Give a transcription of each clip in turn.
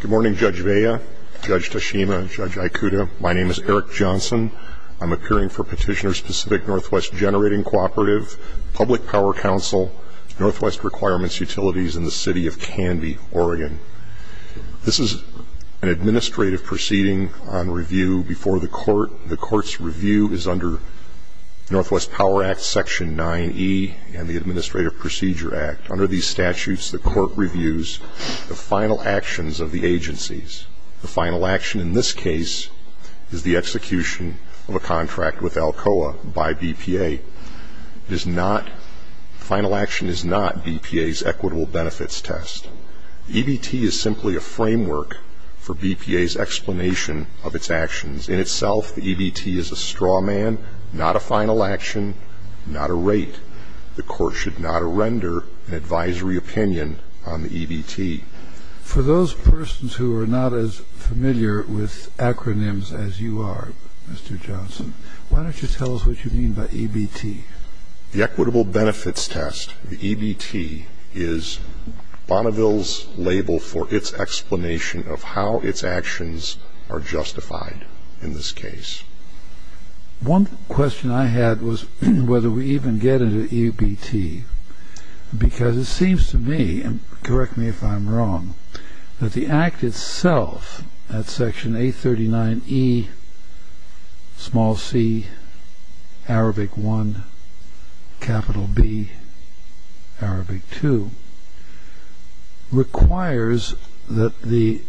Good morning, Judge Vea, Judge Tashima, Judge Aikuda. My name is Eric Johnson. I'm appearing for Petitioner-Specific Northwest Generating Cooperative, Public Power Council, Northwest Requirements Utilities in the City of Canby, Oregon. This is an administrative proceeding on review before the Court. The Court's review is under Northwest Power Act Section 9E and the Administrative Procedure Act. Under these statutes, the Court reviews the final actions of the agencies. The final action in this case is the execution of a contract with Alcoa by BPA. The final action is not BPA's equitable benefits test. The EBT is simply a framework for BPA's explanation of its actions. In itself, the EBT is a straw man, not a final action, not a rate. The Court should not render an advisory opinion on the EBT. For those persons who are not as familiar with acronyms as you are, Mr. Johnson, why don't you tell us what you mean by EBT? The equitable benefits test, the EBT, is Bonneville's label for its explanation of how its actions are justified in this case. One question I had was whether we even get into EBT, because it seems to me, and correct me if I'm wrong, that the Act itself, at Section 839E, small c, Arabic 1, capital B, Arabic 2, requires that the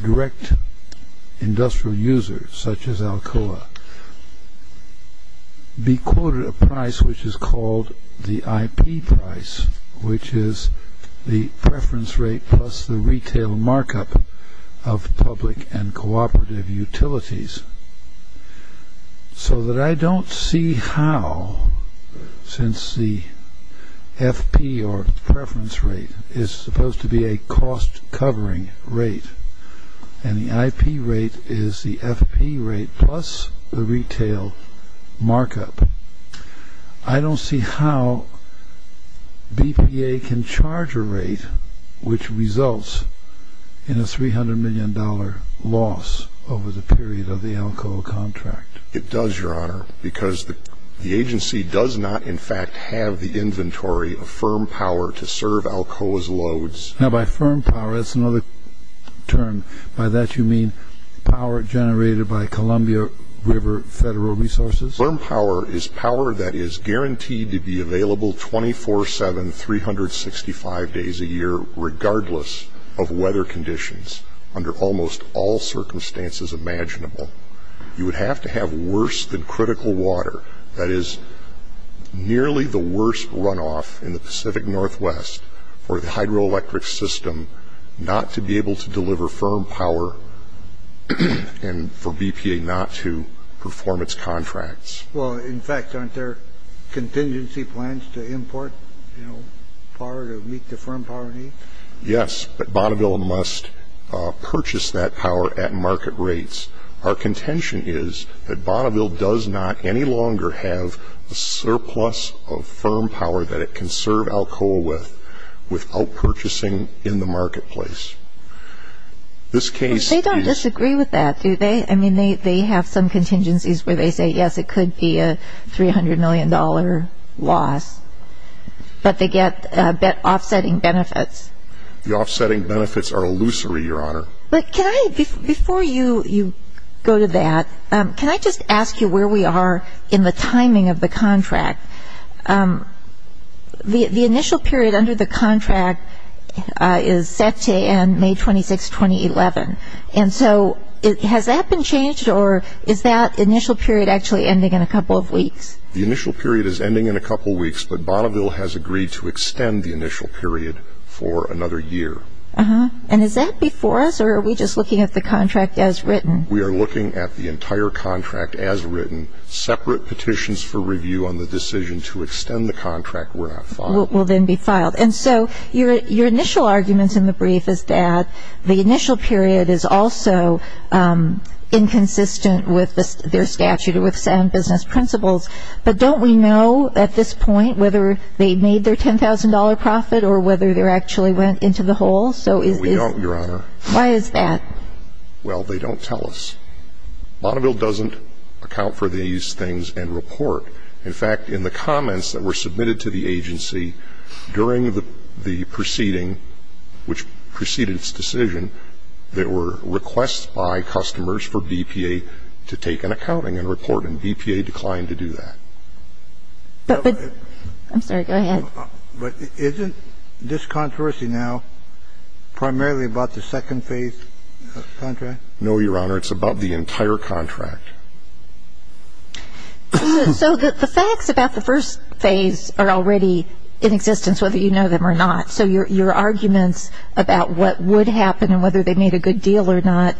direct industrial user, such as Alcoa, be quoted a price which is called the IP price, which is the preference rate plus the retail markup of public and cooperative utilities, so that I don't see how, since the FP, or preference rate, is supposed to be a cost-covering rate, and the IP rate is the FP rate plus the retail markup, I don't see how BPA can charge a rate which results in a $300 million loss over the period of the Alcoa contract. It does, Your Honor, because the agency does not, in fact, have the inventory of firm power to serve Alcoa's loads. Now, by firm power, that's another term. By that you mean power generated by Columbia River Federal Resources? Firm power is power that is guaranteed to be available 24-7, 365 days a year, regardless of weather conditions under almost all circumstances imaginable. You would have to have worse than critical water. That is nearly the worst runoff in the Pacific Northwest for the hydroelectric system not to be able to deliver firm power and for BPA not to perform its contracts. Well, in fact, aren't there contingency plans to import power to meet the firm power needs? Yes, but Bonneville must purchase that power at market rates. Our contention is that Bonneville does not any longer have a surplus of firm power that it can serve Alcoa with without purchasing in the marketplace. They don't disagree with that, do they? I mean, they have some contingencies where they say, yes, it could be a $300 million loss, but they get offsetting benefits. The offsetting benefits are illusory, Your Honor. Before you go to that, can I just ask you where we are in the timing of the contract? The initial period under the contract is set to end May 26, 2011, and so has that been changed or is that initial period actually ending in a couple of weeks? The initial period is ending in a couple of weeks, but Bonneville has agreed to extend the initial period for another year. And is that before us or are we just looking at the contract as written? We are looking at the entire contract as written. Separate petitions for review on the decision to extend the contract were not filed. Will then be filed. And so your initial arguments in the brief is that the initial period is also inconsistent with their statute or with sound business principles, but don't we know at this point whether they made their $10,000 profit or whether they actually went into the hole? We don't, Your Honor. Why is that? Well, they don't tell us. Bonneville doesn't account for these things and report. In fact, in the comments that were submitted to the agency during the proceeding which preceded its decision, there were requests by customers for BPA to take an accounting and report, and BPA declined to do that. I'm sorry. Go ahead. But isn't this controversy now primarily about the second phase contract? No, Your Honor. It's about the entire contract. So the facts about the first phase are already in existence, whether you know them or not. So your arguments about what would happen and whether they made a good deal or not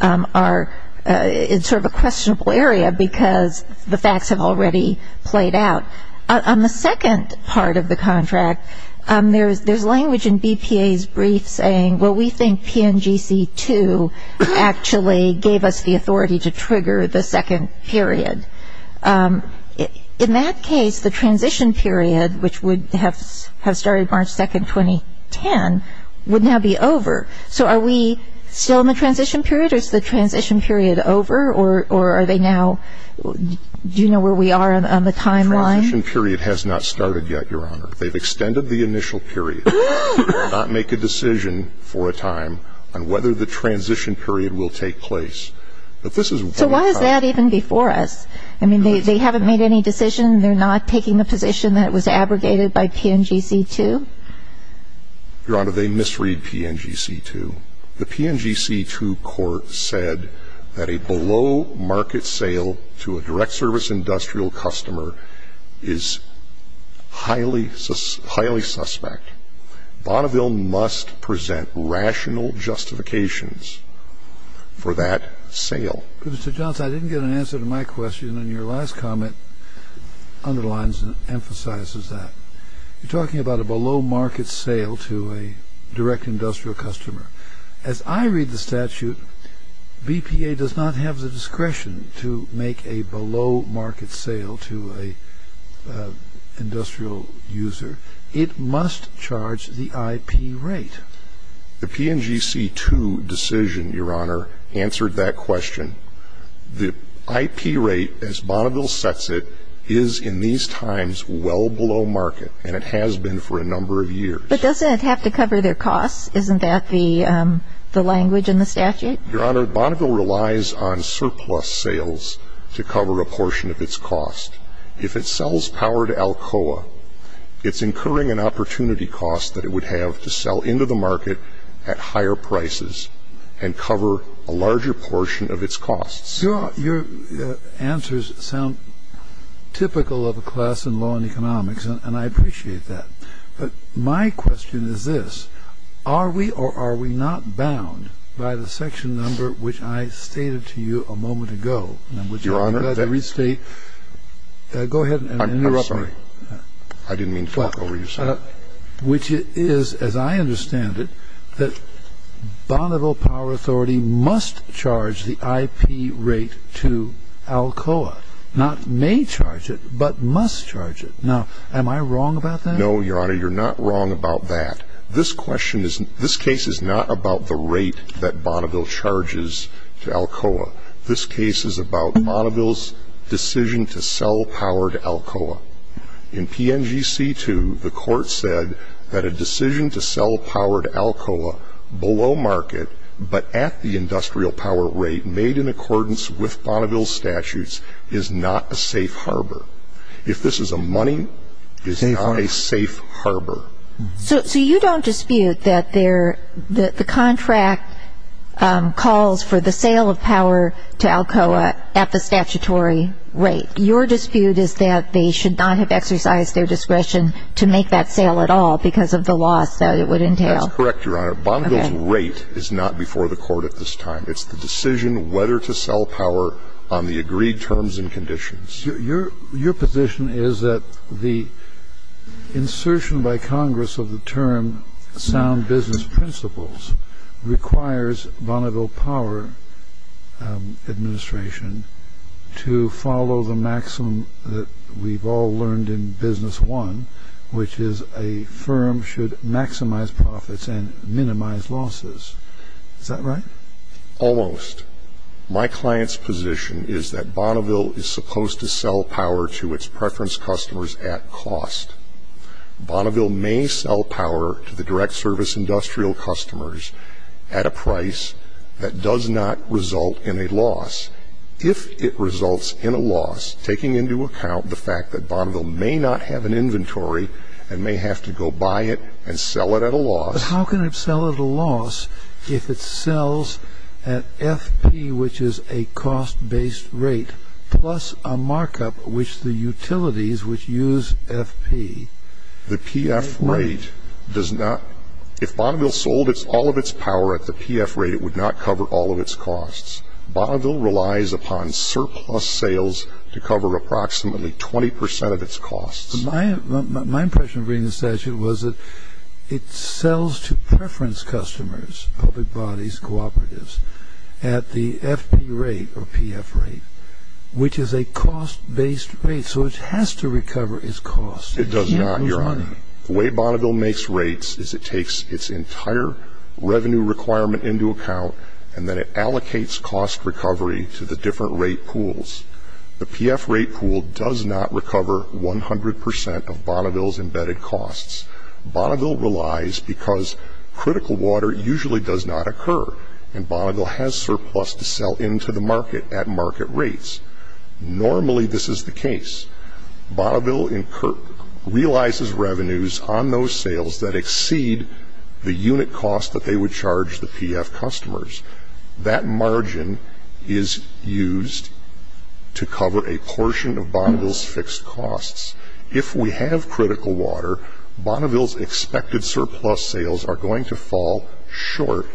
are sort of a questionable area because the facts have already played out. On the second part of the contract, there's language in BPA's brief saying, well, we think PNGC-2 actually gave us the authority to trigger the second period. In that case, the transition period, which would have started March 2, 2010, would now be over. So are we still in the transition period or is the transition period over or are they now do you know where we are on the timeline? The transition period has not started yet, Your Honor. They've extended the initial period. They did not make a decision for a time on whether the transition period will take place. But this is what we're talking about. So why is that even before us? I mean, they haven't made any decision. They're not taking the position that it was abrogated by PNGC-2? Your Honor, they misread PNGC-2. The PNGC-2 court said that a below-market sale to a direct-service industrial customer is highly suspect. Bonneville must present rational justifications for that sale. Mr. Johnson, I didn't get an answer to my question, and your last comment underlines and emphasizes that. You're talking about a below-market sale to a direct industrial customer. As I read the statute, BPA does not have the discretion to make a below-market sale to an industrial user. It must charge the IP rate. The PNGC-2 decision, Your Honor, answered that question. The IP rate, as Bonneville sets it, is in these times well below market, and it has been for a number of years. But doesn't it have to cover their costs? Isn't that the language in the statute? Your Honor, Bonneville relies on surplus sales to cover a portion of its cost. If it sells power to Alcoa, it's incurring an opportunity cost that it would have to sell into the market at higher prices and cover a larger portion of its costs. Your answers sound typical of a class in law and economics, and I appreciate that. But my question is this. Are we or are we not bound by the section number which I stated to you a moment ago? Your Honor. Go ahead. I'm sorry. I didn't mean to talk over your side. Which it is, as I understand it, that Bonneville Power Authority must charge the IP rate to Alcoa. Not may charge it, but must charge it. Now, am I wrong about that? No, Your Honor, you're not wrong about that. This case is not about the rate that Bonneville charges to Alcoa. This case is about Bonneville's decision to sell power to Alcoa. In PNGC2, the court said that a decision to sell power to Alcoa below market, but at the industrial power rate made in accordance with Bonneville's statutes, is not a safe harbor. If this is a money, it's not a safe harbor. So you don't dispute that the contract calls for the sale of power to Alcoa at the statutory rate. Your dispute is that they should not have exercised their discretion to make that sale at all because of the loss that it would entail. That's correct, Your Honor. Bonneville's rate is not before the court at this time. It's the decision whether to sell power on the agreed terms and conditions. Your position is that the insertion by Congress of the term sound business principles requires Bonneville Power Administration to follow the maximum that we've all learned in business one, which is a firm should maximize profits and minimize losses. Is that right? Almost. My client's position is that Bonneville is supposed to sell power to its preference customers at cost. Bonneville may sell power to the direct service industrial customers at a price that does not result in a loss. If it results in a loss, taking into account the fact that Bonneville may not have an inventory and may have to go buy it and sell it at a loss. But how can it sell at a loss if it sells at FP, which is a cost-based rate, plus a markup which the utilities which use FP. The PF rate does not. If Bonneville sold all of its power at the PF rate, it would not cover all of its costs. Bonneville relies upon surplus sales to cover approximately 20 percent of its costs. My impression of reading the statute was that it sells to preference customers, public bodies, cooperatives, at the FP rate or PF rate, which is a cost-based rate. So it has to recover its costs. It does not, Your Honor. The way Bonneville makes rates is it takes its entire revenue requirement into account and then it allocates cost recovery to the different rate pools. The PF rate pool does not recover 100 percent of Bonneville's embedded costs. Bonneville relies because critical water usually does not occur, and Bonneville has surplus to sell into the market at market rates. Normally this is the case. Bonneville realizes revenues on those sales that exceed the unit cost that they would charge the PF customers. That margin is used to cover a portion of Bonneville's fixed costs. If we have critical water, Bonneville's expected surplus sales are going to fall short,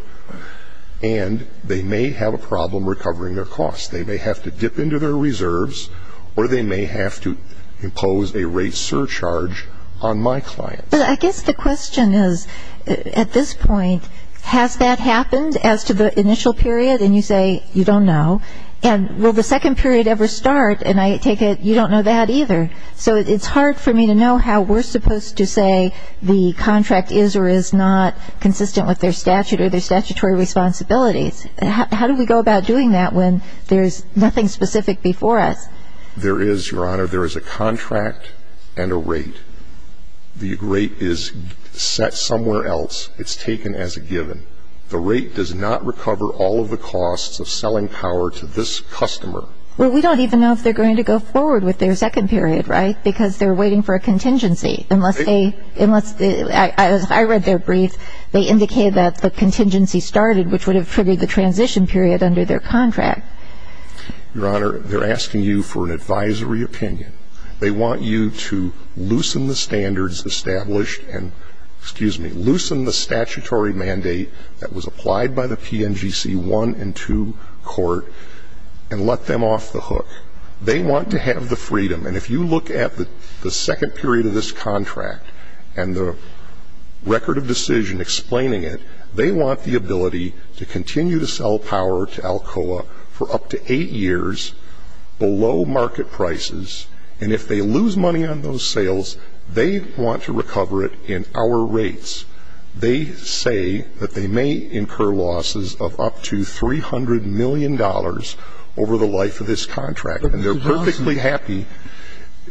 and they may have a problem recovering their costs. They may have to dip into their reserves, or they may have to impose a rate surcharge on my client. But I guess the question is, at this point, has that happened as to the initial period? And you say you don't know. And will the second period ever start? And I take it you don't know that either. So it's hard for me to know how we're supposed to say the contract is or is not consistent with their statute or their statutory responsibilities. How do we go about doing that when there's nothing specific before us? There is, Your Honor. There is a contract and a rate. The rate is set somewhere else. It's taken as a given. The rate does not recover all of the costs of selling power to this customer. Well, we don't even know if they're going to go forward with their second period, right? Because they're waiting for a contingency. Unless they ñ I read their brief. They indicated that the contingency started, which would have triggered the transition period under their contract. Your Honor, they're asking you for an advisory opinion. They want you to loosen the standards established and, excuse me, loosen the statutory mandate that was applied by the PNGC 1 and 2 court and let them off the hook. They want to have the freedom. And if you look at the second period of this contract and the record of decision explaining it, they want the ability to continue to sell power to Alcoa for up to eight years below market prices. And if they lose money on those sales, they want to recover it in our rates. They say that they may incur losses of up to $300 million over the life of this contract. And they're perfectly happy.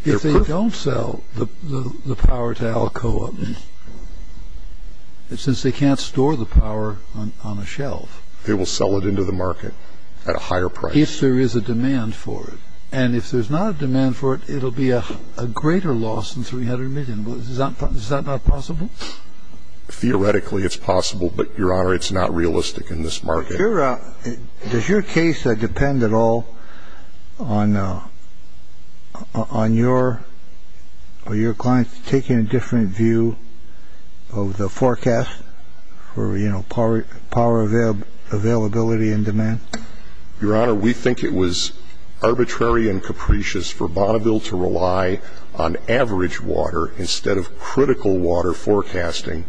If they don't sell the power to Alcoa, since they can't store the power on a shelf. They will sell it into the market at a higher price. If there is a demand for it. And if there's not a demand for it, it will be a greater loss than $300 million. Is that not possible? Theoretically, it's possible. But, Your Honor, it's not realistic in this market. Does your case depend at all on your clients taking a different view of the forecast for power availability and demand? Your Honor, we think it was arbitrary and capricious for Bonneville to rely on average water instead of critical water forecasting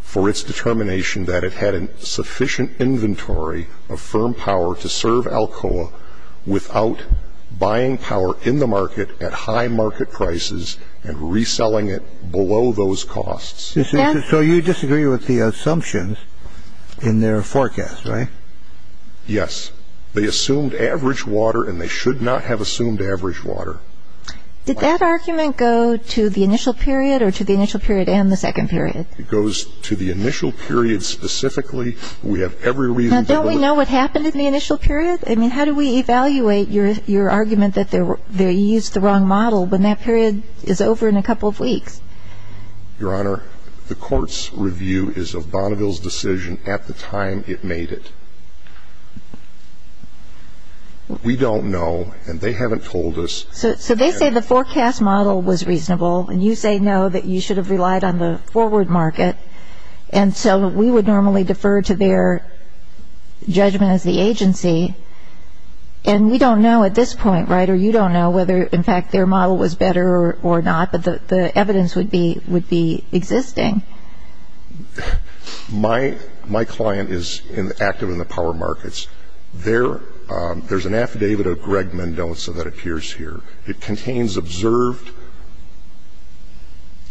for its determination that it had sufficient inventory of firm power to serve Alcoa without buying power in the market at high market prices and reselling it below those costs. So you disagree with the assumptions in their forecast, right? Yes. They assumed average water and they should not have assumed average water. Did that argument go to the initial period or to the initial period and the second period? It goes to the initial period specifically. We have every reason to believe that. Now, don't we know what happened in the initial period? I mean, how do we evaluate your argument that they used the wrong model when that period is over in a couple of weeks? Your Honor, the court's review is of Bonneville's decision at the time it made it. We don't know and they haven't told us. So they say the forecast model was reasonable and you say no, that you should have relied on the forward market, and so we would normally defer to their judgment as the agency. And we don't know at this point, right, or you don't know whether, in fact, their model was better or not, but the evidence would be existing. My client is active in the power markets. There's an affidavit of Greg Mendoza that appears here. It contains observed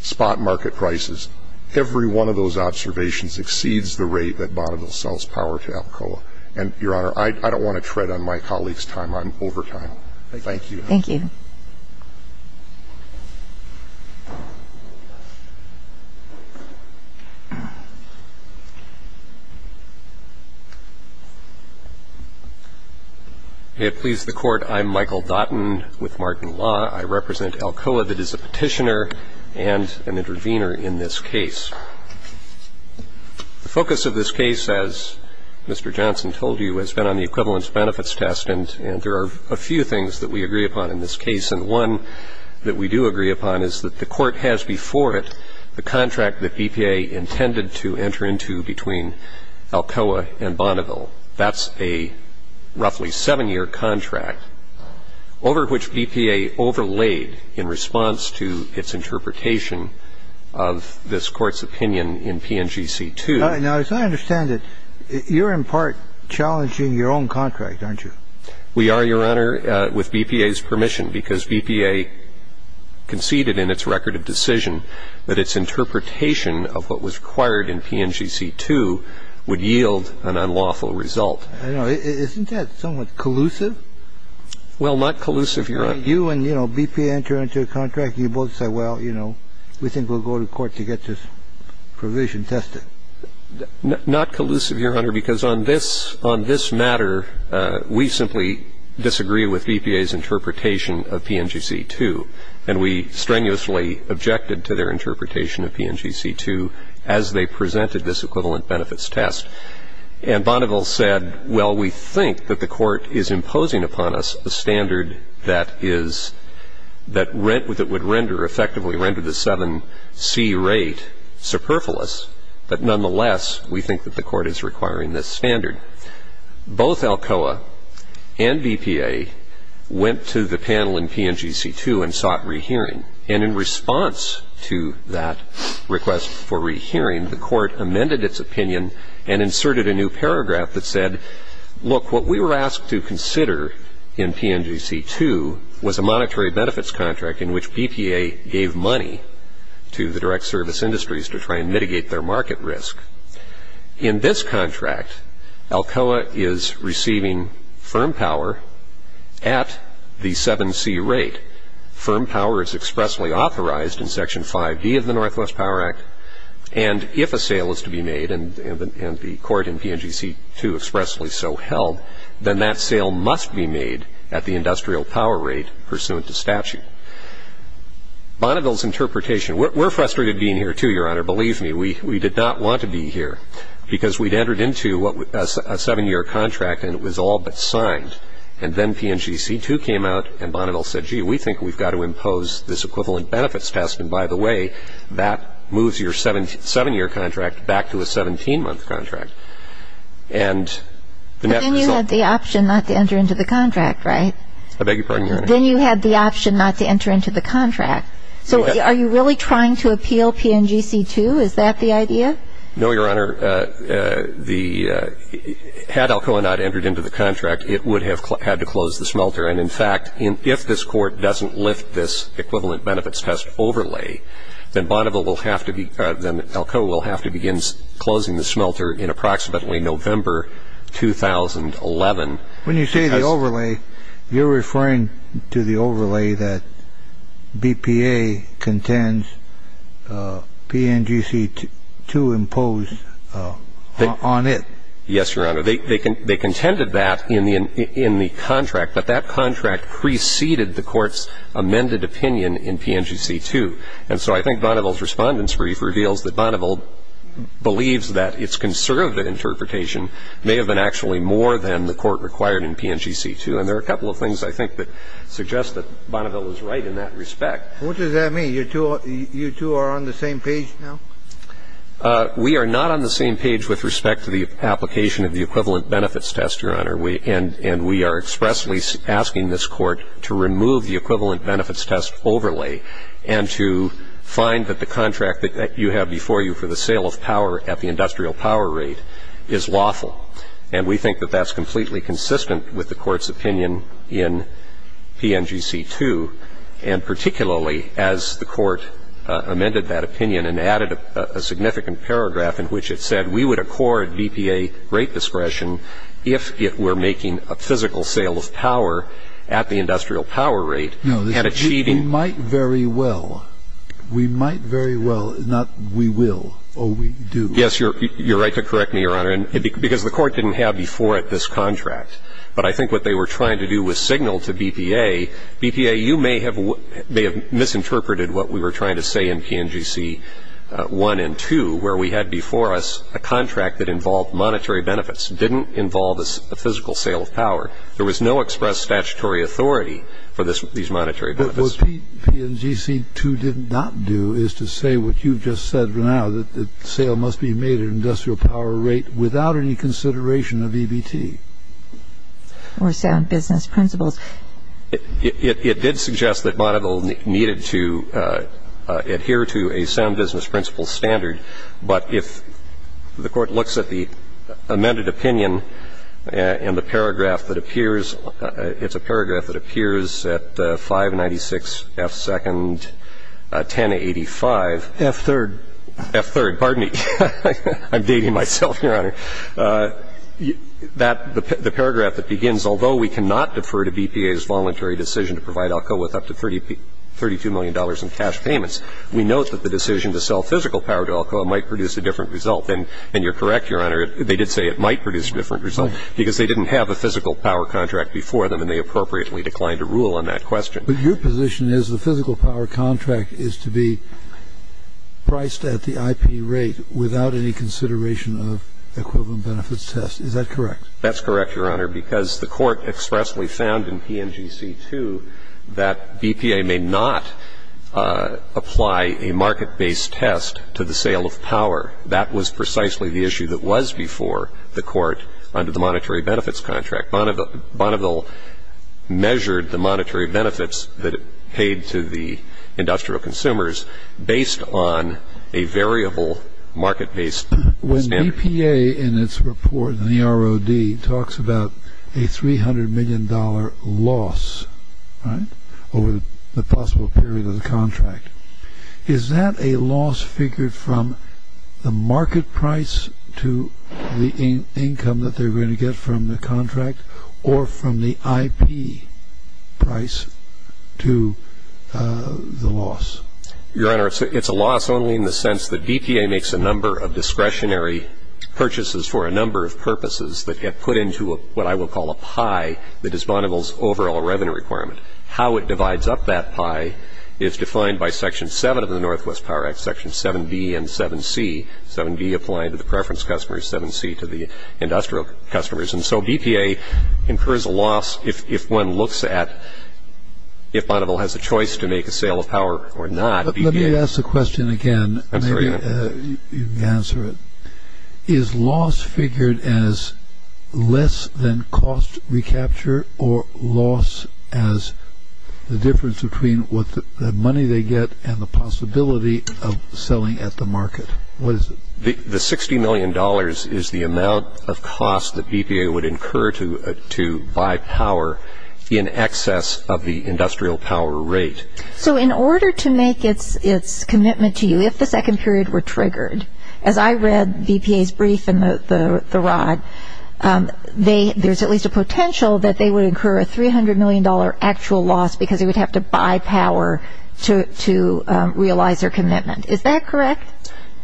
spot market prices. Every one of those observations exceeds the rate that Bonneville sells power to Alcoa. And, Your Honor, I don't want to tread on my colleague's time. I'm over time. Thank you. Thank you. May it please the Court, I'm Michael Dautin with Martin Law. I represent Alcoa that is a petitioner and an intervener in this case. The focus of this case, as Mr. Johnson told you, has been on the equivalence benefits test, and there are a few things that we agree upon in this case. And one that we do agree upon is that the court has before it the contract that EPA intended to enter into between Alcoa and Bonneville. That's a roughly seven-year contract over which EPA overlaid in response to its interpretation of this court's opinion in PNGC-2. Now, as I understand it, you're in part challenging your own contract, aren't you? We are, Your Honor, with EPA's permission, because EPA conceded in its record of decision that its interpretation of what was required in PNGC-2 would yield an unlawful result. I know. Isn't that somewhat collusive? Well, not collusive, Your Honor. You and, you know, BP enter into a contract and you both say, well, you know, we think we'll go to court to get this provision tested. Not collusive, Your Honor, because on this matter, we simply disagree with EPA's interpretation of PNGC-2, and we strenuously objected to their interpretation of PNGC-2 as they presented this equivalent benefits test. And Bonneville said, well, we think that the court is imposing upon us a standard that is that would render, or effectively render the 7C rate superfluous. But nonetheless, we think that the court is requiring this standard. Both ALCOA and BPA went to the panel in PNGC-2 and sought rehearing. And in response to that request for rehearing, the court amended its opinion and inserted a new paragraph that said, look, what we were asked to consider in PNGC-2 was a monetary benefits contract in which BPA gave money to the direct service industries to try and mitigate their market risk. In this contract, ALCOA is receiving firm power at the 7C rate. Firm power is expressly authorized in Section 5B of the Northwest Power Act. And if a sale is to be made, and the court in PNGC-2 expressly so held, then that sale must be made at the industrial power rate pursuant to statute. Bonneville's interpretation, we're frustrated being here, too, Your Honor. Believe me, we did not want to be here because we'd entered into a 7-year contract and it was all but signed. And then PNGC-2 came out and Bonneville said, gee, we think we've got to impose this equivalent benefits test. And, by the way, that moves your 7-year contract back to a 17-month contract. And the net result was the same. But then you had the option not to enter into the contract, right? I beg your pardon, Your Honor. Then you had the option not to enter into the contract. So are you really trying to appeal PNGC-2? Is that the idea? No, Your Honor. Had ALCOA not entered into the contract, it would have had to close the smelter. And, in fact, if this Court doesn't lift this equivalent benefits test overlay, then ALCOA will have to begin closing the smelter in approximately November 2011. When you say the overlay, you're referring to the overlay that BPA contends PNGC-2 imposed on it. Yes, Your Honor. They contended that in the contract. But that contract preceded the Court's amended opinion in PNGC-2. And so I think Bonneville's Respondent's Brief reveals that Bonneville believes that its conserved interpretation may have been actually more than the Court required in PNGC-2. And there are a couple of things, I think, that suggest that Bonneville was right in that respect. What does that mean? You two are on the same page now? We are not on the same page with respect to the application of the equivalent benefits test, Your Honor. And we are expressly asking this Court to remove the equivalent benefits test overlay and to find that the contract that you have before you for the sale of power at the industrial power rate is lawful. And we think that that's completely consistent with the Court's opinion in PNGC-2. And particularly, as the Court amended that opinion and added a significant paragraph in which it said, we would accord BPA rate discretion if it were making a physical sale of power at the industrial power rate and achieving. No, we might very well. We might very well, not we will, oh, we do. Yes, you're right to correct me, Your Honor. Because the Court didn't have before it this contract. But I think what they were trying to do was signal to BPA, BPA, you may have misinterpreted what we were trying to say in PNGC-1 and 2, where we had before us a contract that involved monetary benefits, didn't involve a physical sale of power. There was no express statutory authority for these monetary benefits. But what PNGC-2 did not do is to say what you've just said now, that the sale must be made at industrial power rate without any consideration of EBT. Or sound business principles. It did suggest that Monovil needed to adhere to a sound business principle standard, but if the Court looks at the amended opinion and the paragraph that appears, it's a paragraph that appears at 596 F2nd 1085. F3rd. F3rd. Pardon me. I'm dating myself, Your Honor. The paragraph that begins, although we cannot defer to BPA's voluntary decision to provide Alcoa with up to $32 million in cash payments, we note that the decision to sell physical power to Alcoa might produce a different result. And you're correct, Your Honor, they did say it might produce a different result because they didn't have a physical power contract before them and they appropriately declined to rule on that question. But your position is the physical power contract is to be priced at the IP rate without any consideration of equivalent benefits test. Is that correct? That's correct, Your Honor, because the Court expressly found in PNGC-2 that BPA may not apply a market-based test to the sale of power. That was precisely the issue that was before the Court under the monetary benefits contract. Monovil measured the monetary benefits that it paid to the industrial consumers based on a variable market-based standard. When BPA in its report in the ROD talks about a $300 million loss over the possible period of the contract, is that a loss figured from the market price to the income that they're going to get from the contract or from the IP price to the loss? Your Honor, it's a loss only in the sense that BPA makes a number of discretionary purchases for a number of purposes that get put into what I will call a pie that is Monovil's overall revenue requirement. How it divides up that pie is defined by Section 7 of the Northwest Power Act, Section 7b and 7c, 7b applying to the preference customers, 7c to the industrial customers. And so BPA incurs a loss if one looks at if Monovil has a choice to make a sale of Let me ask the question again. I'm sorry, Your Honor. You can answer it. Is loss figured as less than cost recapture or loss as the difference between what the money they get and the possibility of selling at the market? What is it? The $60 million is the amount of cost that BPA would incur to buy power in excess of the industrial power rate. So in order to make its commitment to you, if the second period were triggered, as I read BPA's brief in The Rod, there's at least a potential that they would incur a $300 million actual loss because they would have to buy power to realize their commitment. Is that correct?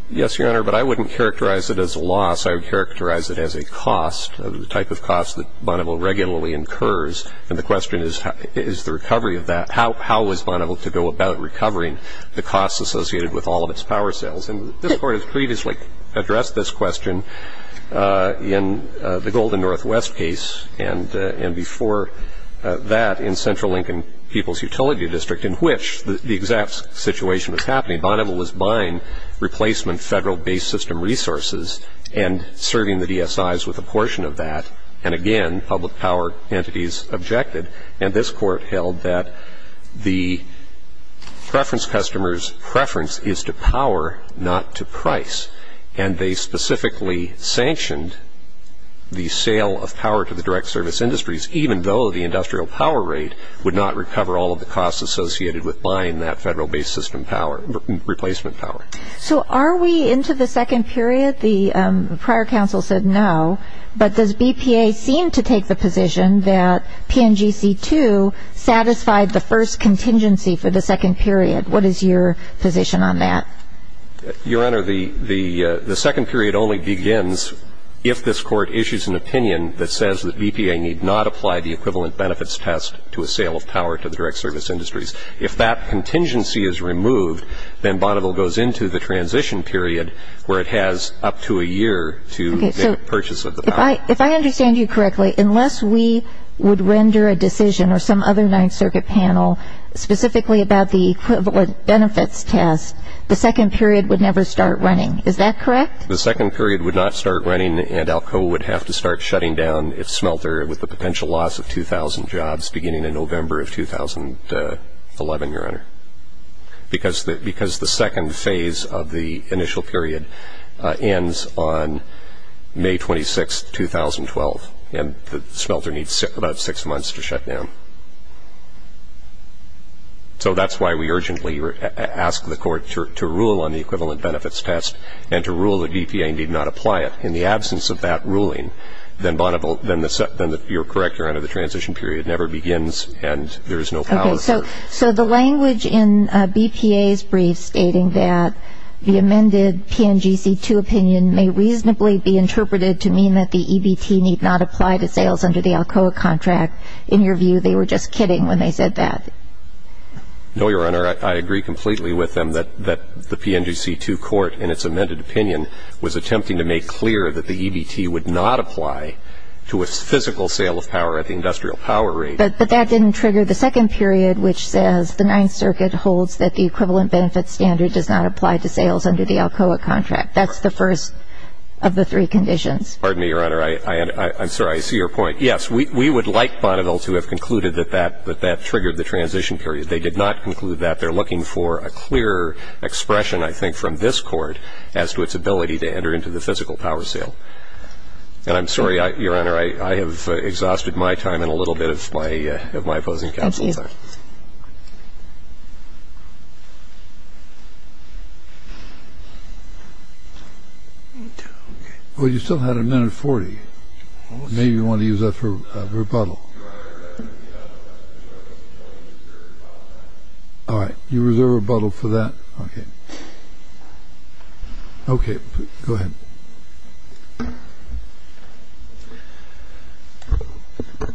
Yes, Your Honor, but I wouldn't characterize it as a loss. I would characterize it as a cost, the type of cost that Monovil regularly incurs, and the question is the recovery of that. How was Monovil to go about recovering the costs associated with all of its power sales? And this Court has previously addressed this question in the Golden Northwest case and before that in Central Lincoln People's Utility District, in which the exact situation was happening. Monovil was buying replacement Federal-based system resources and serving the DSIs with a portion of that. And again, public power entities objected. And this Court held that the preference customer's preference is to power, not to price. And they specifically sanctioned the sale of power to the direct service industries, even though the industrial power rate would not recover all of the costs associated with buying that Federal-based system power, replacement power. So are we into the second period? The prior counsel said no. But does BPA seem to take the position that PNGC-2 satisfied the first contingency for the second period? What is your position on that? Your Honor, the second period only begins if this Court issues an opinion that says that BPA need not apply the equivalent benefits test to a sale of power to the direct service industries. If that contingency is removed, then Monovil goes into the transition period where it has up to a year to make a purchase of the power. Okay. So if I understand you correctly, unless we would render a decision or some other Ninth Circuit panel specifically about the equivalent benefits test, the second period would never start running. Is that correct? The second period would not start running, and ALCO would have to start shutting down its smelter with the potential loss of 2,000 jobs beginning in November of 2011, Your Honor. Because the second phase of the initial period ends on May 26, 2012. And the smelter needs about six months to shut down. So that's why we urgently ask the Court to rule on the equivalent benefits test and to rule that BPA need not apply it. In the absence of that ruling, then you're correct, Your Honor, the transition period never begins and there is no power. Okay. So the language in BPA's brief stating that the amended PNGC2 opinion may reasonably be interpreted to mean that the EBT need not apply to sales under the ALCOA contract, in your view they were just kidding when they said that? No, Your Honor. I agree completely with them that the PNGC2 court in its amended opinion was attempting to make clear that the EBT would not apply to a physical sale of power at the industrial power rate. But that didn't trigger the second period, which says the Ninth Circuit holds that the equivalent benefits standard does not apply to sales under the ALCOA contract. That's the first of the three conditions. Pardon me, Your Honor. I'm sorry. I see your point. Yes, we would like Bonneville to have concluded that that triggered the transition period. They did not conclude that. They're looking for a clearer expression, I think, from this Court as to its ability to enter into the physical power sale. And I'm sorry, Your Honor, I have exhausted my time and a little bit of my opposing counsel's time. Thank you. Well, you still had a minute 40. Maybe you want to use that for rebuttal. All right. You reserve rebuttal for that. Okay. Okay. Go ahead.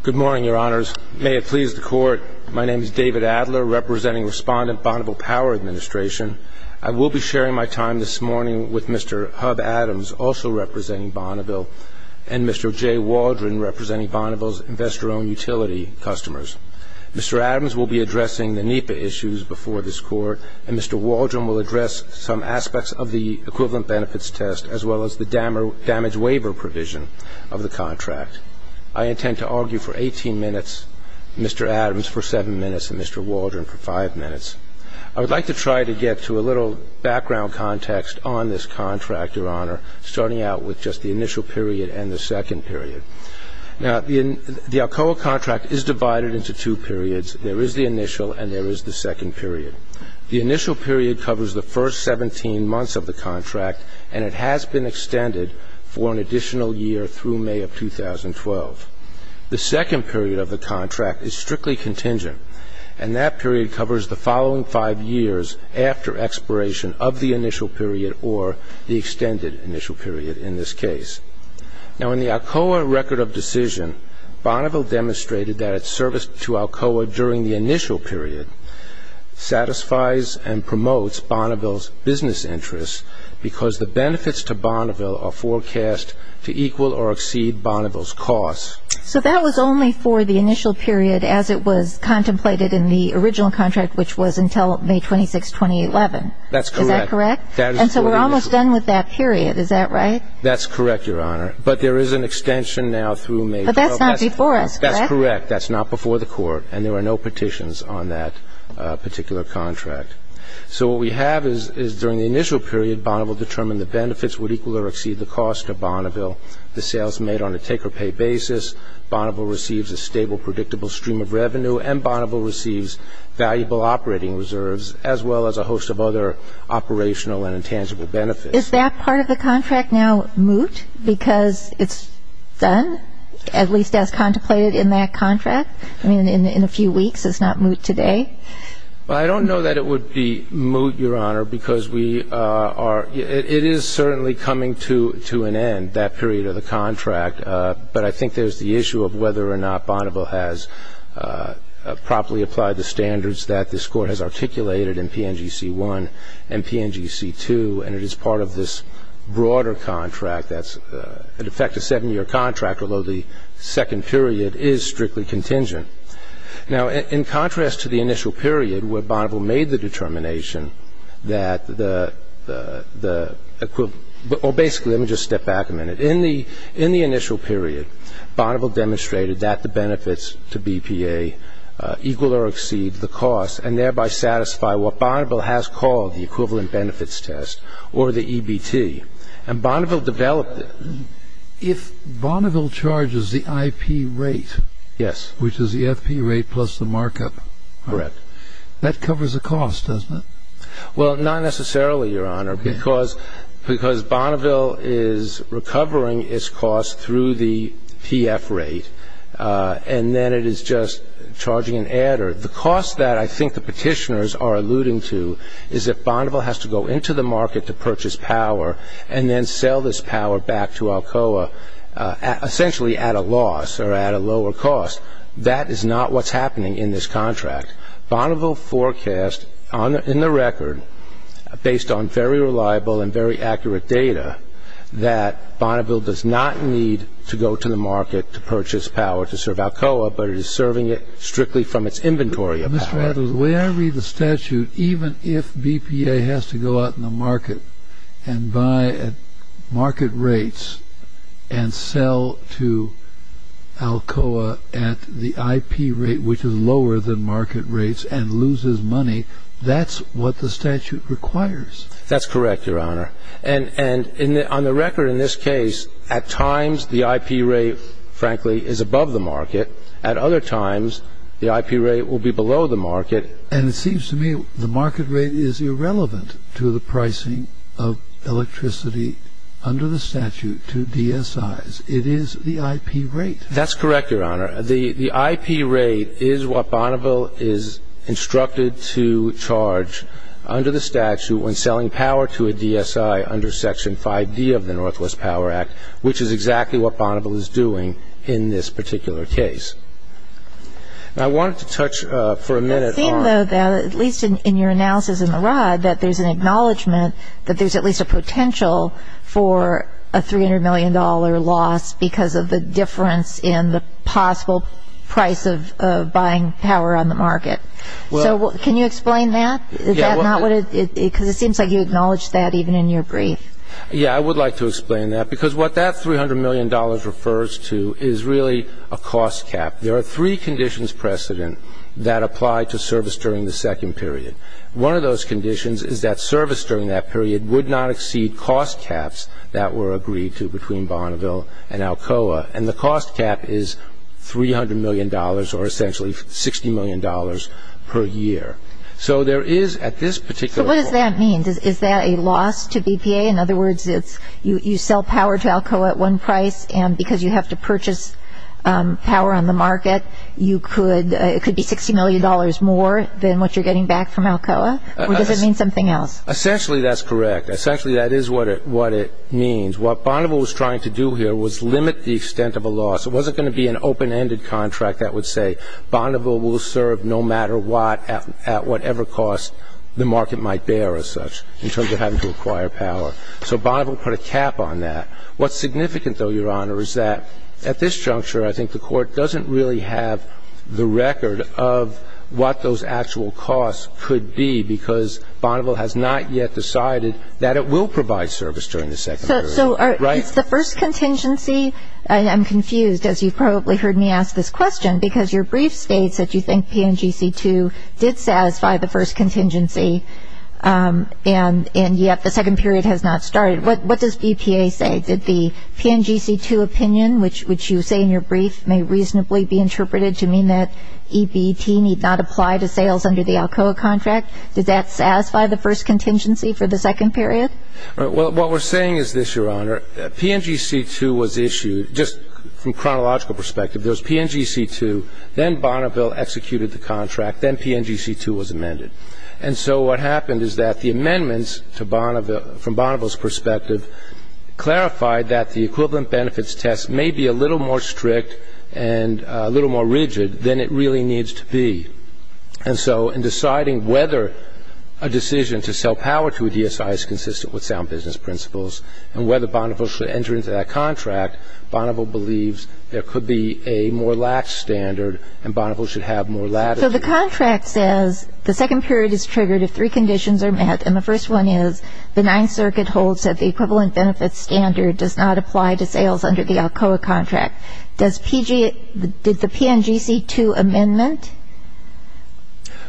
Good morning, Your Honors. May it please the Court, my name is David Adler, representing Respondent Bonneville Power Administration. I will be sharing my time this morning with Mr. Hub Adams, also representing Bonneville, and Mr. Jay Waldron, representing Bonneville's investor-owned utility customers. Mr. Adams will be addressing the NEPA issues before this Court, and Mr. Waldron will address some aspects of the equivalent benefits test, as well as the damage waiver provision of the contract. I intend to argue for 18 minutes, Mr. Adams for 7 minutes, and Mr. Waldron for 5 minutes. I would like to try to get to a little background context on this contract, Your Honor, starting out with just the initial period and the second period. Now, the Alcoa contract is divided into two periods. There is the initial and there is the second period. The initial period covers the first 17 months of the contract, and it has been extended for an additional year through May of 2012. The second period of the contract is strictly contingent, and that period covers the following five years after expiration of the initial period or the extended initial period in this case. Now, in the Alcoa record of decision, Bonneville demonstrated that its service to Alcoa during the initial period satisfies and promotes Bonneville's business interests because the benefits to Bonneville are forecast to equal or exceed Bonneville's costs. So that was only for the initial period as it was contemplated in the original contract, which was until May 26, 2011. That's correct. Is that correct? And so we're almost done with that period. Is that right? That's correct, Your Honor. But there is an extension now through May 12th. But that's not before us, correct? That's correct. That's not before the Court, and there are no petitions on that particular contract. So what we have is during the initial period Bonneville determined the benefits would equal or exceed the cost of Bonneville, the sales made on a take-or-pay basis, Bonneville receives a stable, predictable stream of revenue, and Bonneville receives valuable operating reserves as well as a host of other operational and intangible benefits. Is that part of the contract now moot because it's done, at least as contemplated in that contract? I mean, in a few weeks, it's not moot today? Well, I don't know that it would be moot, Your Honor, because we are ñ it is certainly coming to an end, that period of the contract. But I think there's the issue of whether or not Bonneville has properly applied the standards that this Court has articulated in PNGC-1 and PNGC-2, and it is part of this broader contract that's, in effect, a seven-year contract, although the second period is strictly contingent. Now, in contrast to the initial period where Bonneville made the determination that the ñ or basically, let me just step back a minute. In the initial period, Bonneville demonstrated that the benefits to BPA equal or exceed the cost and thereby satisfy what Bonneville has called the equivalent benefits test, or the EBT. And Bonneville developed it. If Bonneville charges the IP rate... Yes. ...which is the FP rate plus the markup... Correct. ...that covers the cost, doesn't it? Well, not necessarily, Your Honor, because Bonneville is recovering its cost through the PF rate, and then it is just charging an adder. The cost that I think the petitioners are alluding to is that Bonneville has to go into the market to purchase power and then sell this power back to Alcoa, essentially at a loss or at a lower cost. That is not what's happening in this contract. Bonneville forecast in the record, based on very reliable and very accurate data, that Bonneville does not need to go to the market to purchase power to serve Alcoa, but is serving it strictly from its inventory of power. Mr. Rutherford, the way I read the statute, even if BPA has to go out in the market and buy at market rates and sell to Alcoa at the IP rate, which is lower than market rates, and loses money, that's what the statute requires. That's correct, Your Honor. And on the record in this case, at times the IP rate, frankly, is above the market. At other times, the IP rate will be below the market. And it seems to me the market rate is irrelevant to the pricing of electricity under the statute to DSIs. It is the IP rate. That's correct, Your Honor. The IP rate is what Bonneville is instructed to charge under the statute when selling power to a DSI under Section 5D of the Northwest Power Act, which is exactly what Bonneville is doing in this particular case. And I wanted to touch for a minute on It seems, though, that at least in your analysis in the Rod, that there's an acknowledgment that there's at least a potential for a $300 million loss because of the difference in the possible price of buying power on the market. So can you explain that? Because it seems like you acknowledged that even in your brief. Yeah, I would like to explain that because what that $300 million refers to is really a cost cap. There are three conditions precedent that apply to service during the second period. One of those conditions is that service during that period would not exceed cost caps that were agreed to between Bonneville and Alcoa, and the cost cap is $300 million or essentially $60 million per year. So there is at this particular point So what does that mean? Is that a loss to BPA? In other words, you sell power to Alcoa at one price and because you have to purchase power on the market, it could be $60 million more than what you're getting back from Alcoa? Or does it mean something else? Essentially, that's correct. Essentially, that is what it means. What Bonneville was trying to do here was limit the extent of a loss. It wasn't going to be an open-ended contract that would say the market might bear as such in terms of having to acquire power. So Bonneville put a cap on that. What's significant, though, Your Honor, is that at this juncture, I think the Court doesn't really have the record of what those actual costs could be because Bonneville has not yet decided that it will provide service during the second period. So it's the first contingency. I'm confused, as you've probably heard me ask this question, because your brief states that you think PNGC-2 did satisfy the first contingency, and yet the second period has not started. What does BPA say? Did the PNGC-2 opinion, which you say in your brief, may reasonably be interpreted to mean that EBT need not apply to sales under the Alcoa contract? Did that satisfy the first contingency for the second period? What we're saying is this, Your Honor. PNGC-2 was issued, just from chronological perspective, there was PNGC-2, then Bonneville executed the contract, then PNGC-2 was amended. And so what happened is that the amendments from Bonneville's perspective clarified that the equivalent benefits test may be a little more strict and a little more rigid than it really needs to be. And so in deciding whether a decision to sell power to a DSI is consistent with sound business principles and whether Bonneville should enter into that contract, Bonneville believes there could be a more lax standard and Bonneville should have more latitude. So the contract says the second period is triggered if three conditions are met, and the first one is the Ninth Circuit holds that the equivalent benefits standard does not apply to sales under the Alcoa contract. Does PNGC-2 amendment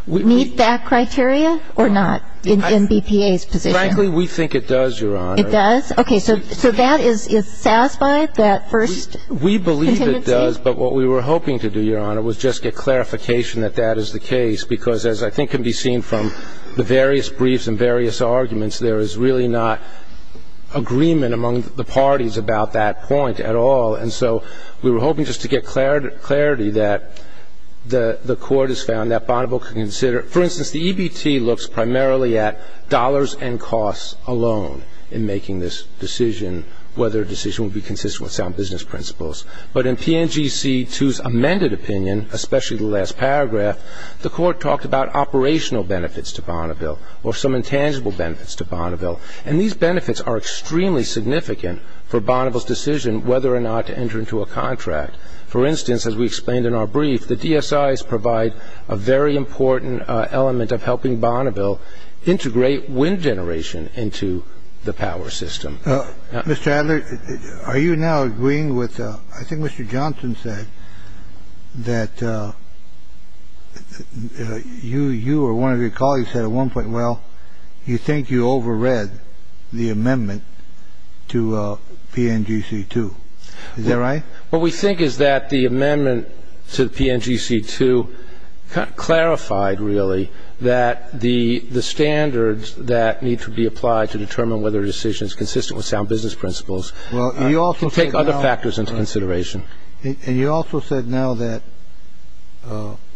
meet that criteria or not in BPA's position? Frankly, we think it does, Your Honor. It does? Okay. So that is satisfied, that first contingency? We believe it does, but what we were hoping to do, Your Honor, was just get clarification that that is the case, because as I think can be seen from the various briefs and various arguments, there is really not agreement among the parties about that point at all. And so we were hoping just to get clarity that the Court has found that Bonneville can consider. For instance, the EBT looks primarily at dollars and costs alone in making this decision, whether a decision would be consistent with sound business principles. But in PNGC-2's amended opinion, especially the last paragraph, the Court talked about operational benefits to Bonneville or some intangible benefits to Bonneville, and these benefits are extremely significant for Bonneville's decision whether or not to enter into a contract. For instance, as we explained in our brief, the DSIs provide a very important element of helping Bonneville integrate wind generation into the power system. Mr. Adler, are you now agreeing with the – I think Mr. Johnson said that you or one of your colleagues said at one point, well, you think you overread the amendment to PNGC-2. Is that right? What we think is that the amendment to PNGC-2 clarified really that the standards that need to be applied to determine whether a decision is consistent with sound business principles can take other factors into consideration. And you also said now that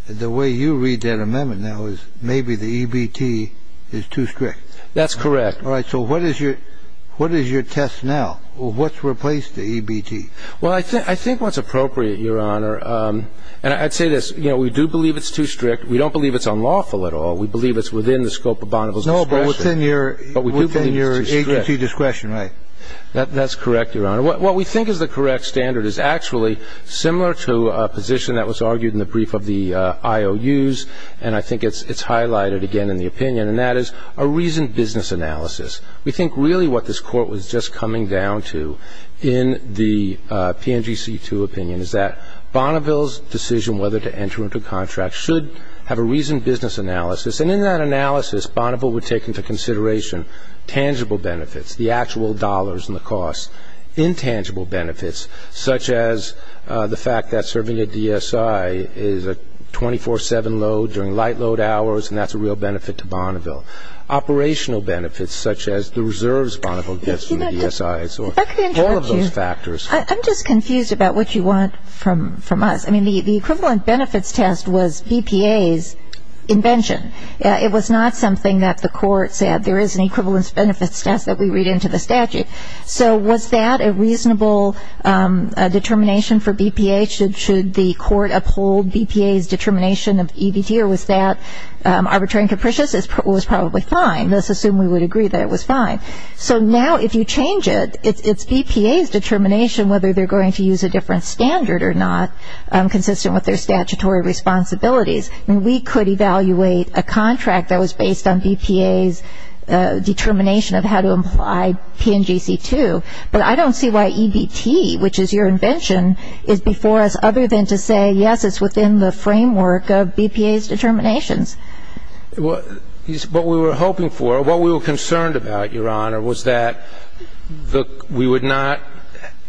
the way you read that amendment now is maybe the EBT is too strict. That's correct. All right. So what is your test now? What's replaced the EBT? Well, I think what's appropriate, Your Honor, and I'd say this. We do believe it's too strict. We don't believe it's unlawful at all. We believe it's within the scope of Bonneville's discretion. No, but within your agency discretion, right? That's correct, Your Honor. What we think is the correct standard is actually similar to a position that was argued in the brief of the IOUs, and I think it's highlighted again in the opinion, and that is a reasoned business analysis. We think really what this Court was just coming down to in the PNGC-2 opinion is that Bonneville's decision whether to enter into a contract should have a reasoned business analysis, and in that analysis Bonneville would take into consideration tangible benefits, the actual dollars and the costs, intangible benefits, such as the fact that serving a DSI is a 24-7 load during light load hours, and that's a real benefit to Bonneville. Operational benefits such as the reserves Bonneville gets from the DSIs or all of those factors. If I could interrupt you. I'm just confused about what you want from us. I mean, the equivalent benefits test was BPA's invention. It was not something that the Court said, there is an equivalent benefits test that we read into the statute. So was that a reasonable determination for BPA? Should the Court uphold BPA's determination of EBT, or was that arbitrary and capricious? It was probably fine. Let's assume we would agree that it was fine. So now if you change it, it's BPA's determination whether they're going to use a different standard or not, consistent with their statutory responsibilities. I mean, we could evaluate a contract that was based on BPA's determination of how to apply PNGC-2, but I don't see why EBT, which is your invention, is before us other than to say, yes, it's within the framework of BPA's determinations. What we were hoping for, what we were concerned about, Your Honor, was that we would not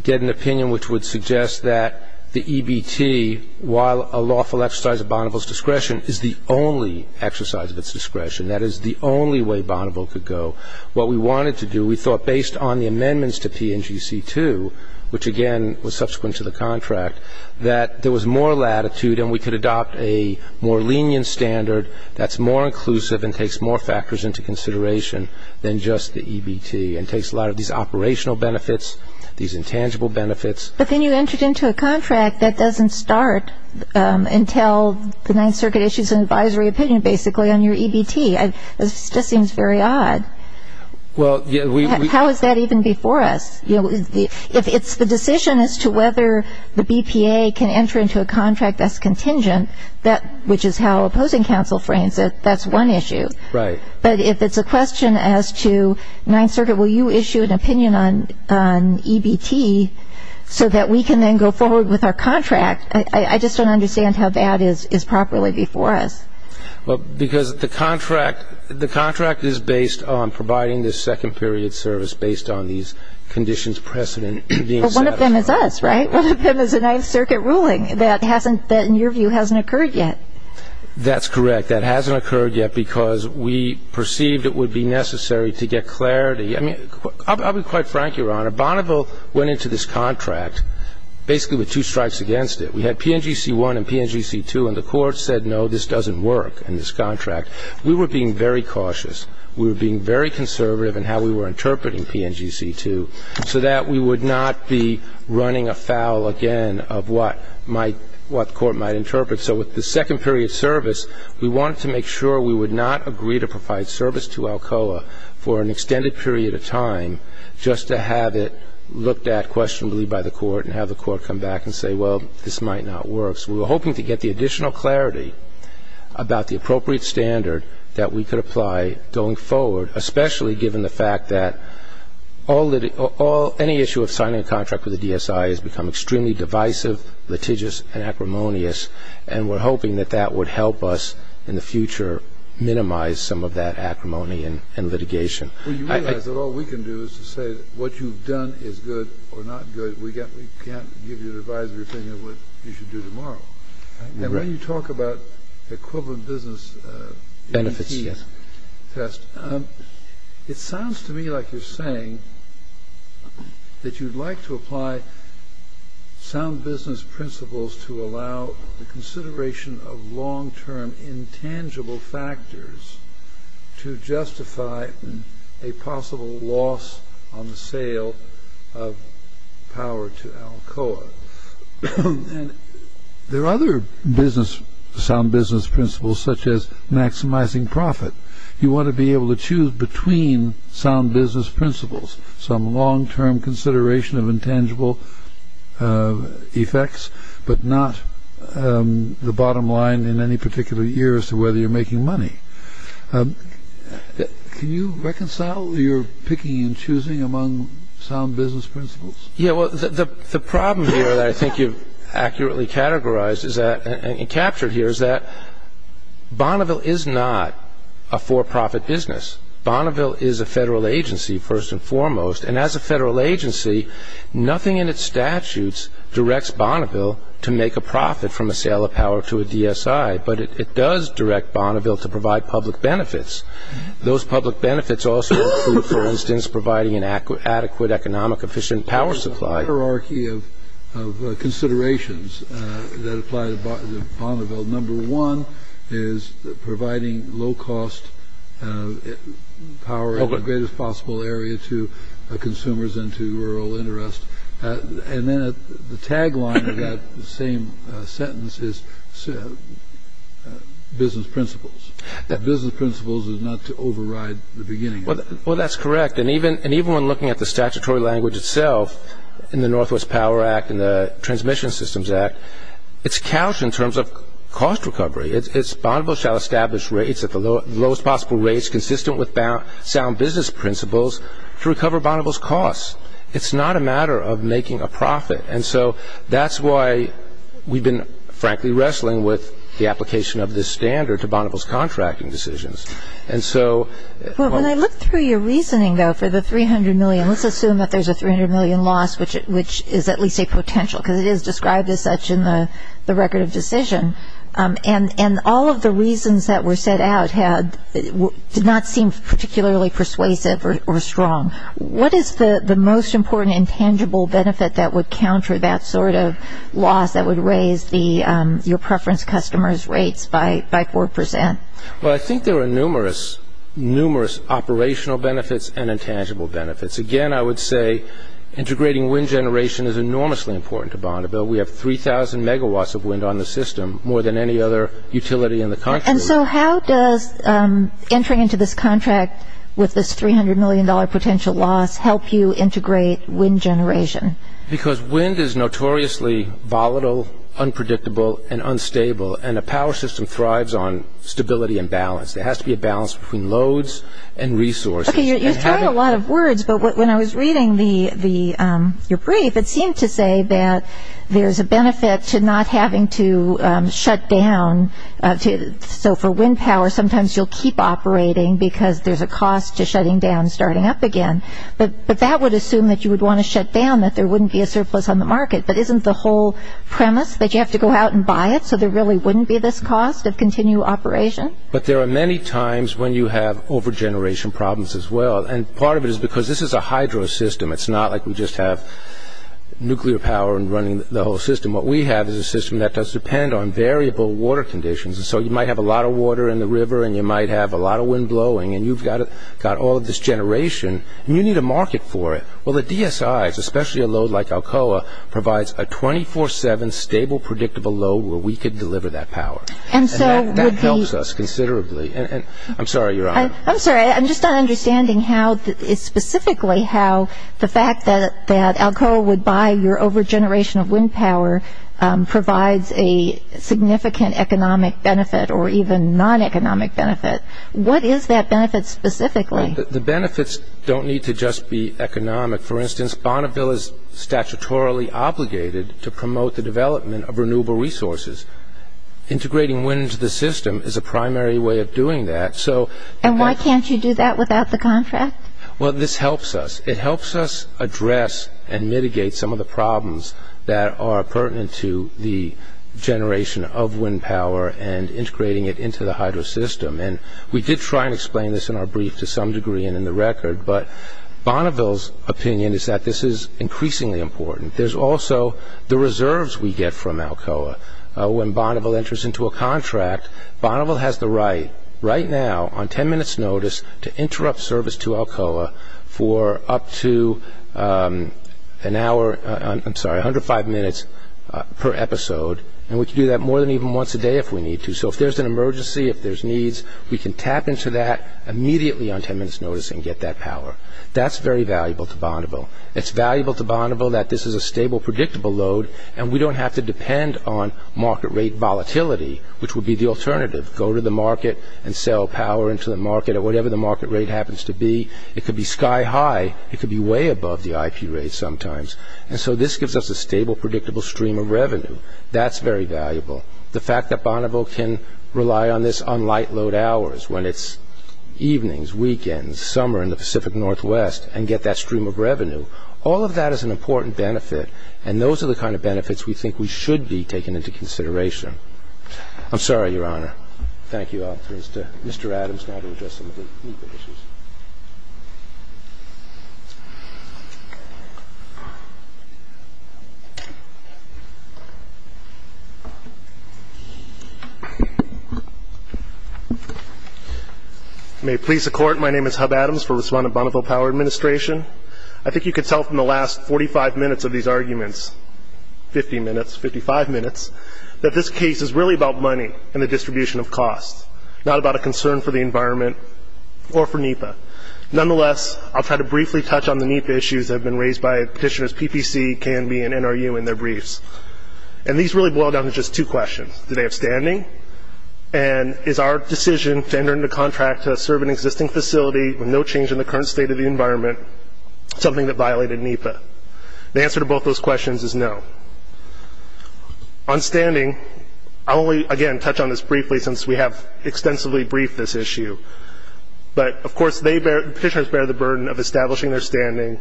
get an opinion which would suggest that the EBT, while a lawful exercise of Bonneville's discretion, is the only exercise of its discretion. That is the only way Bonneville could go. What we wanted to do, we thought, based on the amendments to PNGC-2, which, again, was subsequent to the contract, that there was more latitude and we could adopt a more lenient standard that's more inclusive and takes more factors into consideration than just the EBT and takes a lot of these operational benefits, these intangible benefits. But then you entered into a contract that doesn't start until the Ninth Circuit issues an advisory opinion, basically, on your EBT. This just seems very odd. Well, yeah. How is that even before us? You know, if it's the decision as to whether the BPA can enter into a contract that's contingent, which is how opposing counsel frames it, that's one issue. Right. But if it's a question as to Ninth Circuit, will you issue an opinion on EBT so that we can then go forward with our contract, I just don't understand how that is properly before us. Well, because the contract is based on providing this second period service based on these conditions precedent being satisfied. Well, one of them is us, right? One of them is a Ninth Circuit ruling that, in your view, hasn't occurred yet. That's correct. That hasn't occurred yet because we perceived it would be necessary to get clarity. I mean, I'll be quite frank, Your Honor. Bonneville went into this contract basically with two strikes against it. We had PNGC-1 and PNGC-2, and the court said, no, this doesn't work in this contract. We were being very cautious. We were being very conservative in how we were interpreting PNGC-2 so that we would not be running afoul again of what the court might interpret. So with the second period service, we wanted to make sure we would not agree to provide service to Alcoa for an extended period of time just to have it looked at questionably by the court and have the court come back and say, well, this might not work. So we were hoping to get the additional clarity about the appropriate standard that we could apply going forward, especially given the fact that any issue of signing a contract with the DSI has become extremely divisive, litigious, and acrimonious, and we're hoping that that would help us in the future minimize some of that acrimony and litigation. Well, you realize that all we can do is to say what you've done is good or not good. We can't give you an advisory opinion of what you should do tomorrow. And when you talk about equivalent business benefits test, it sounds to me like you're saying that you'd like to apply sound business principles to allow the consideration of long-term intangible factors to justify a possible loss on the sale of power to Alcoa. And there are other sound business principles, such as maximizing profit. You want to be able to choose between sound business principles, some long-term consideration of intangible effects, but not the bottom line in any particular year as to whether you're making money. Can you reconcile your picking and choosing among sound business principles? Yeah, well, the problem here that I think you've accurately categorized and captured here is that Bonneville is not a for-profit business. Bonneville is a federal agency, first and foremost, and as a federal agency, nothing in its statutes directs Bonneville to make a profit from a sale of power to a DSI, but it does direct Bonneville to provide public benefits. Those public benefits also include, for instance, providing an adequate economic efficient power supply. There's a hierarchy of considerations that apply to Bonneville. Number one is providing low-cost power in the greatest possible area to consumers and to rural interest. And then the tagline of that same sentence is business principles. Business principles is not to override the beginning. Well, that's correct. And even when looking at the statutory language itself in the Northwest Power Act and the Transmission Systems Act, it's couched in terms of cost recovery. It's Bonneville shall establish rates at the lowest possible rates, consistent with sound business principles to recover Bonneville's costs. It's not a matter of making a profit, and so that's why we've been, frankly, wrestling with the application of this standard to Bonneville's contracting decisions. When I look through your reasoning, though, for the $300 million, let's assume that there's a $300 million loss, which is at least a potential, because it is described as such in the record of decision, and all of the reasons that were set out did not seem particularly persuasive or strong. What is the most important intangible benefit that would counter that sort of loss that would raise your preference customers' rates by 4 percent? Well, I think there are numerous, numerous operational benefits and intangible benefits. Again, I would say integrating wind generation is enormously important to Bonneville. We have 3,000 megawatts of wind on the system, more than any other utility in the country. And so how does entering into this contract with this $300 million potential loss help you integrate wind generation? Because wind is notoriously volatile, unpredictable, and unstable, and a power system thrives on stability and balance. There has to be a balance between loads and resources. Okay, you're throwing a lot of words, but when I was reading your brief, it seemed to say that there's a benefit to not having to shut down. So for wind power, sometimes you'll keep operating because there's a cost to shutting down and starting up again. But that would assume that you would want to shut down, that there wouldn't be a surplus on the market. But isn't the whole premise that you have to go out and buy it, so there really wouldn't be this cost of continued operation? But there are many times when you have over-generation problems as well. And part of it is because this is a hydro system. It's not like we just have nuclear power and running the whole system. What we have is a system that does depend on variable water conditions. So you might have a lot of water in the river, and you might have a lot of wind blowing, and you've got all of this generation, and you need a market for it. Well, the DSIs, especially a load like Alcoa, provides a 24-7 stable, predictable load where we could deliver that power. And that helps us considerably. I'm sorry, Your Honor. I'm sorry. I'm just not understanding specifically how the fact that Alcoa would buy your over-generation of wind power provides a significant economic benefit or even non-economic benefit. What is that benefit specifically? The benefits don't need to just be economic. For instance, Bonneville is statutorily obligated to promote the development of renewable resources. Integrating wind into the system is a primary way of doing that. And why can't you do that without the contract? Well, this helps us. It helps us address and mitigate some of the problems that are pertinent to the generation of wind power and integrating it into the hydro system. And we did try and explain this in our brief to some degree and in the record, but Bonneville's opinion is that this is increasingly important. There's also the reserves we get from Alcoa. When Bonneville enters into a contract, Bonneville has the right right now on 10 minutes' notice to interrupt service to Alcoa for up to an hour, I'm sorry, 105 minutes per episode. And we can do that more than even once a day if we need to. So if there's an emergency, if there's needs, we can tap into that immediately on 10 minutes' notice and get that power. That's very valuable to Bonneville. It's valuable to Bonneville that this is a stable, predictable load, and we don't have to depend on market rate volatility, which would be the alternative. Go to the market and sell power into the market at whatever the market rate happens to be. It could be sky high. It could be way above the IP rate sometimes. And so this gives us a stable, predictable stream of revenue. That's very valuable. The fact that Bonneville can rely on this on light load hours when it's evenings, weekends, summer in the Pacific Northwest and get that stream of revenue, all of that is an important benefit, and those are the kind of benefits we think we should be taking into consideration. I'm sorry, Your Honor. Thank you all. Mr. Adams now to address some of the legal issues. May it please the Court, my name is Hub Adams. We're responding to Bonneville Power Administration. I think you can tell from the last 45 minutes of these arguments, 50 minutes, 55 minutes, that this case is really about money and the distribution of costs, not about a concern for the environment or for NEPA. Nonetheless, I'll try to briefly touch on the NEPA issues that have been raised by petitioners, PPC, K&B, and NRU in their briefs. And these really boil down to just two questions. Do they have standing? And is our decision to enter into contract to serve an existing facility with no change in the current state of the environment something that violated NEPA? The answer to both those questions is no. On standing, I'll only, again, touch on this briefly since we have extensively briefed this issue. But, of course, the petitioners bear the burden of establishing their standing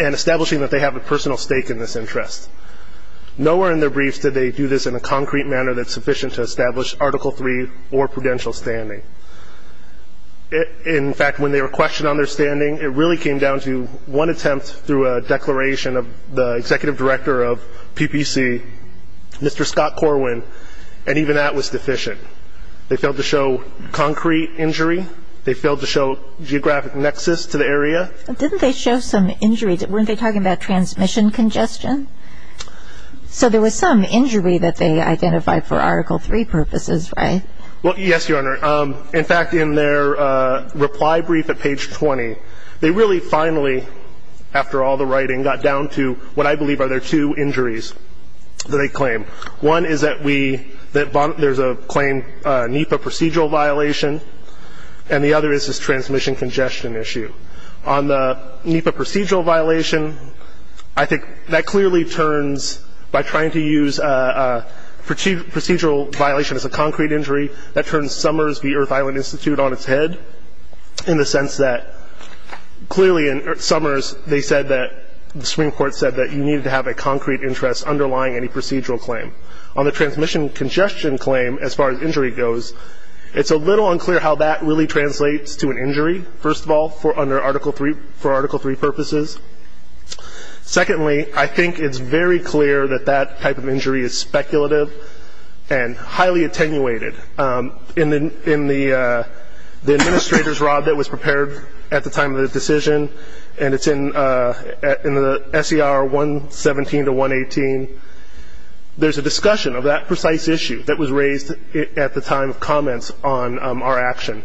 and establishing that they have a personal stake in this interest. Nowhere in their briefs did they do this in a concrete manner that's sufficient to establish Article III or prudential standing. In fact, when they were questioned on their standing, it really came down to one attempt through a declaration of the executive director of PPC, Mr. Scott Corwin, and even that was deficient. They failed to show concrete injury. They failed to show geographic nexus to the area. Didn't they show some injury? Weren't they talking about transmission congestion? So there was some injury that they identified for Article III purposes, right? Well, yes, Your Honor. In fact, in their reply brief at page 20, they really finally, after all the writing, got down to what I believe are their two injuries that they claim. One is that there's a claim NEPA procedural violation, and the other is this transmission congestion issue. On the NEPA procedural violation, I think that clearly turns, by trying to use procedural violation as a concrete injury, that turns Summers v. Earth Island Institute on its head in the sense that clearly in Summers, they said that the Supreme Court said that you needed to have a concrete interest underlying any procedural claim. On the transmission congestion claim, as far as injury goes, it's a little unclear how that really translates to an injury, first of all, for Article III purposes. Secondly, I think it's very clear that that type of injury is speculative and highly attenuated. In the administrator's rod that was prepared at the time of the decision, and it's in the SER 117 to 118, there's a discussion of that precise issue that was raised at the time of comments on our action.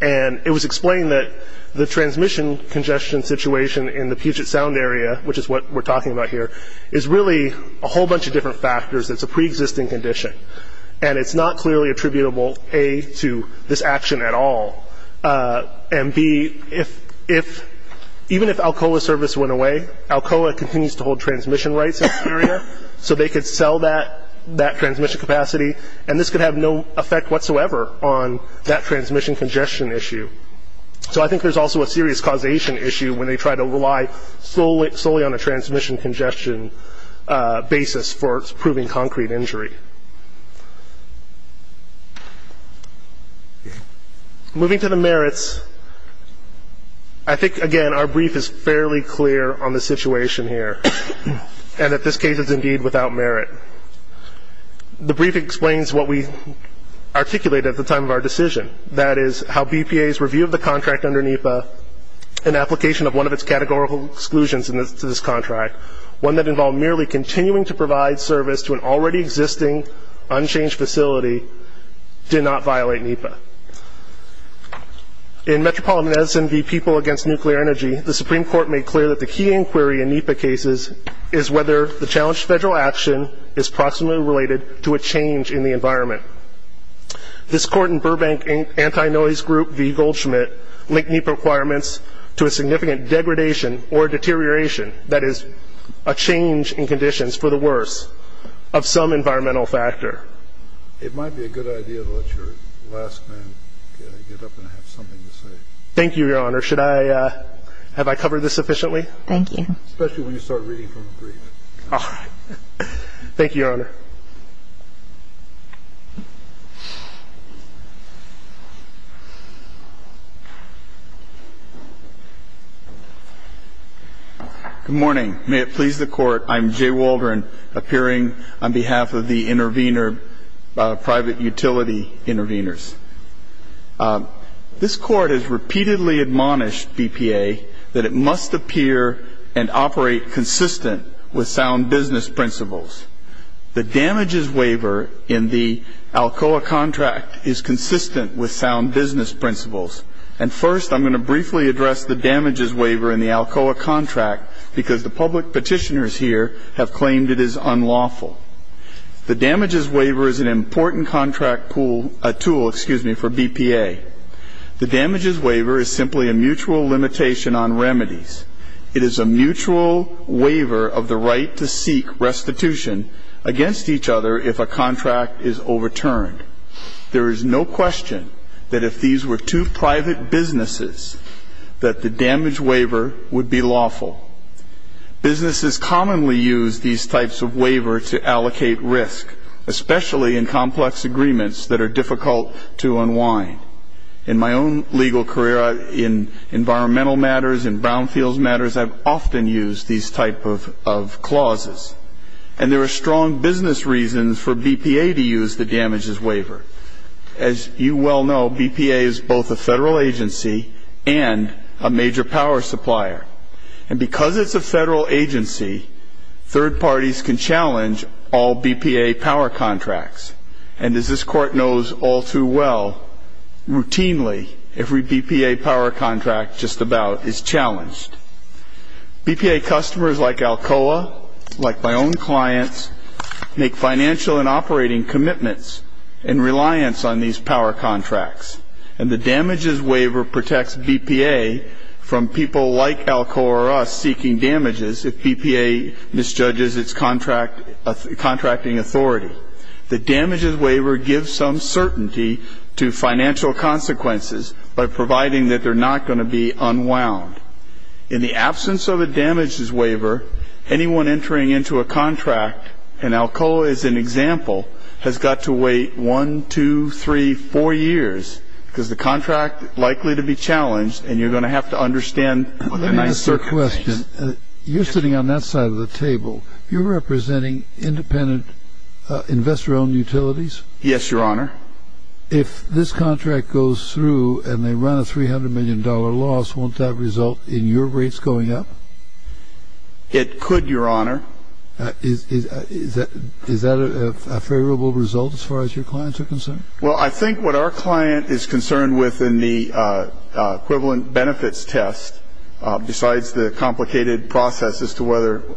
And it was explained that the transmission congestion situation in the Puget Sound area, which is what we're talking about here, is really a whole bunch of different factors. It's a preexisting condition, and it's not clearly attributable, A, to this action at all, and, B, even if Alcoa service went away, Alcoa continues to hold transmission rights in the area, so they could sell that transmission capacity, and this could have no effect whatsoever on that transmission congestion issue. So I think there's also a serious causation issue when they try to rely solely on a transmission congestion basis for proving concrete injury. Moving to the merits, I think, again, our brief is fairly clear on the situation here and that this case is indeed without merit. The brief explains what we articulated at the time of our decision, that is how BPA's review of the contract under NEPA, an application of one of its categorical exclusions to this contract, one that involved merely continuing to provide service to an already existing unchanged facility, did not violate NEPA. In Metropolitan Medicine v. People Against Nuclear Energy, the Supreme Court made clear that the key inquiry in NEPA cases is whether the challenged federal action is proximately related to a change in the environment. This court in Burbank Anti-Noise Group v. Goldschmidt linked NEPA requirements to a significant degradation or deterioration, that is a change in conditions for the worse, of some environmental factor. It might be a good idea to let your last man get up and have something to say. Thank you, Your Honor. Should I – have I covered this sufficiently? Thank you. Especially when you start reading from the brief. All right. Thank you, Your Honor. Good morning. May it please the Court, I'm Jay Waldron, appearing on behalf of the private utility intervenors. This Court has repeatedly admonished BPA that it must appear and operate consistent with sound business principles. The damages waiver in the ALCOA contract is consistent with sound business principles. And first, I'm going to briefly address the damages waiver in the ALCOA contract because the public petitioners here have claimed it is unlawful. The damages waiver is an important contract tool for BPA. The damages waiver is simply a mutual limitation on remedies. It is a mutual waiver of the right to seek restitution against each other if a contract is overturned. There is no question that if these were two private businesses, that the damage waiver would be lawful. Businesses commonly use these types of waiver to allocate risk, especially in complex agreements that are difficult to unwind. In my own legal career, in environmental matters, in brownfields matters, I've often used these type of clauses. And there are strong business reasons for BPA to use the damages waiver. As you well know, BPA is both a federal agency and a major power supplier. And because it's a federal agency, third parties can challenge all BPA power contracts. And as this Court knows all too well, routinely every BPA power contract just about is challenged. BPA customers like ALCOA, like my own clients, make financial and operating commitments and reliance on these power contracts. And the damages waiver protects BPA from people like ALCOA or us seeking damages if BPA misjudges its contracting authority. The damages waiver gives some certainty to financial consequences by providing that they're not going to be unwound. In the absence of a damages waiver, anyone entering into a contract, and ALCOA is an example, has got to wait one, two, three, four years because the contract is likely to be challenged and you're going to have to understand the nice circumstances. Let me ask you a question. You're sitting on that side of the table. You're representing independent investor-owned utilities? Yes, Your Honor. If this contract goes through and they run a $300 million loss, won't that result in your rates going up? It could, Your Honor. Is that a favorable result as far as your clients are concerned? Well, I think what our client is concerned with in the equivalent benefits test, besides the complicated process as to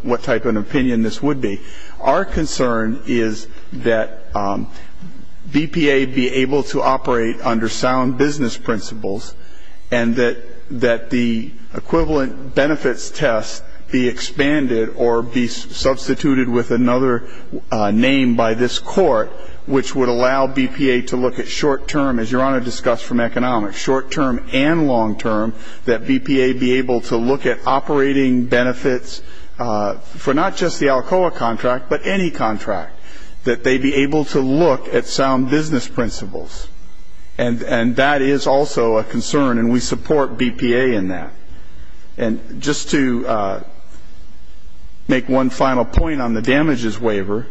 what type of an opinion this would be, our concern is that BPA be able to operate under sound business principles and that the equivalent benefits test be expanded or be substituted with another name by this court which would allow BPA to look at short-term, as Your Honor discussed from economics, short-term and long-term, that BPA be able to look at operating benefits for not just the ALCOA contract, but any contract, that they be able to look at sound business principles. And that is also a concern, and we support BPA in that. And just to make one final point on the damages waiver,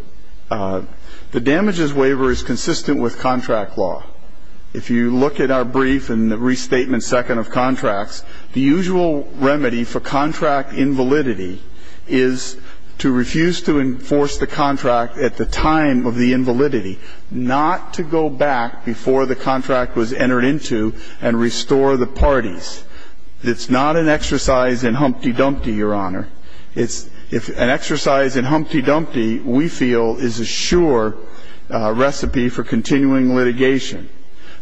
the damages waiver is consistent with contract law. If you look at our brief in the restatement second of contracts, the usual remedy for contract invalidity is to refuse to enforce the contract at the time of the invalidity, not to go back before the contract was entered into and restore the parties. It's not an exercise in humpty-dumpty, Your Honor. It's an exercise in humpty-dumpty we feel is a sure recipe for continuing litigation.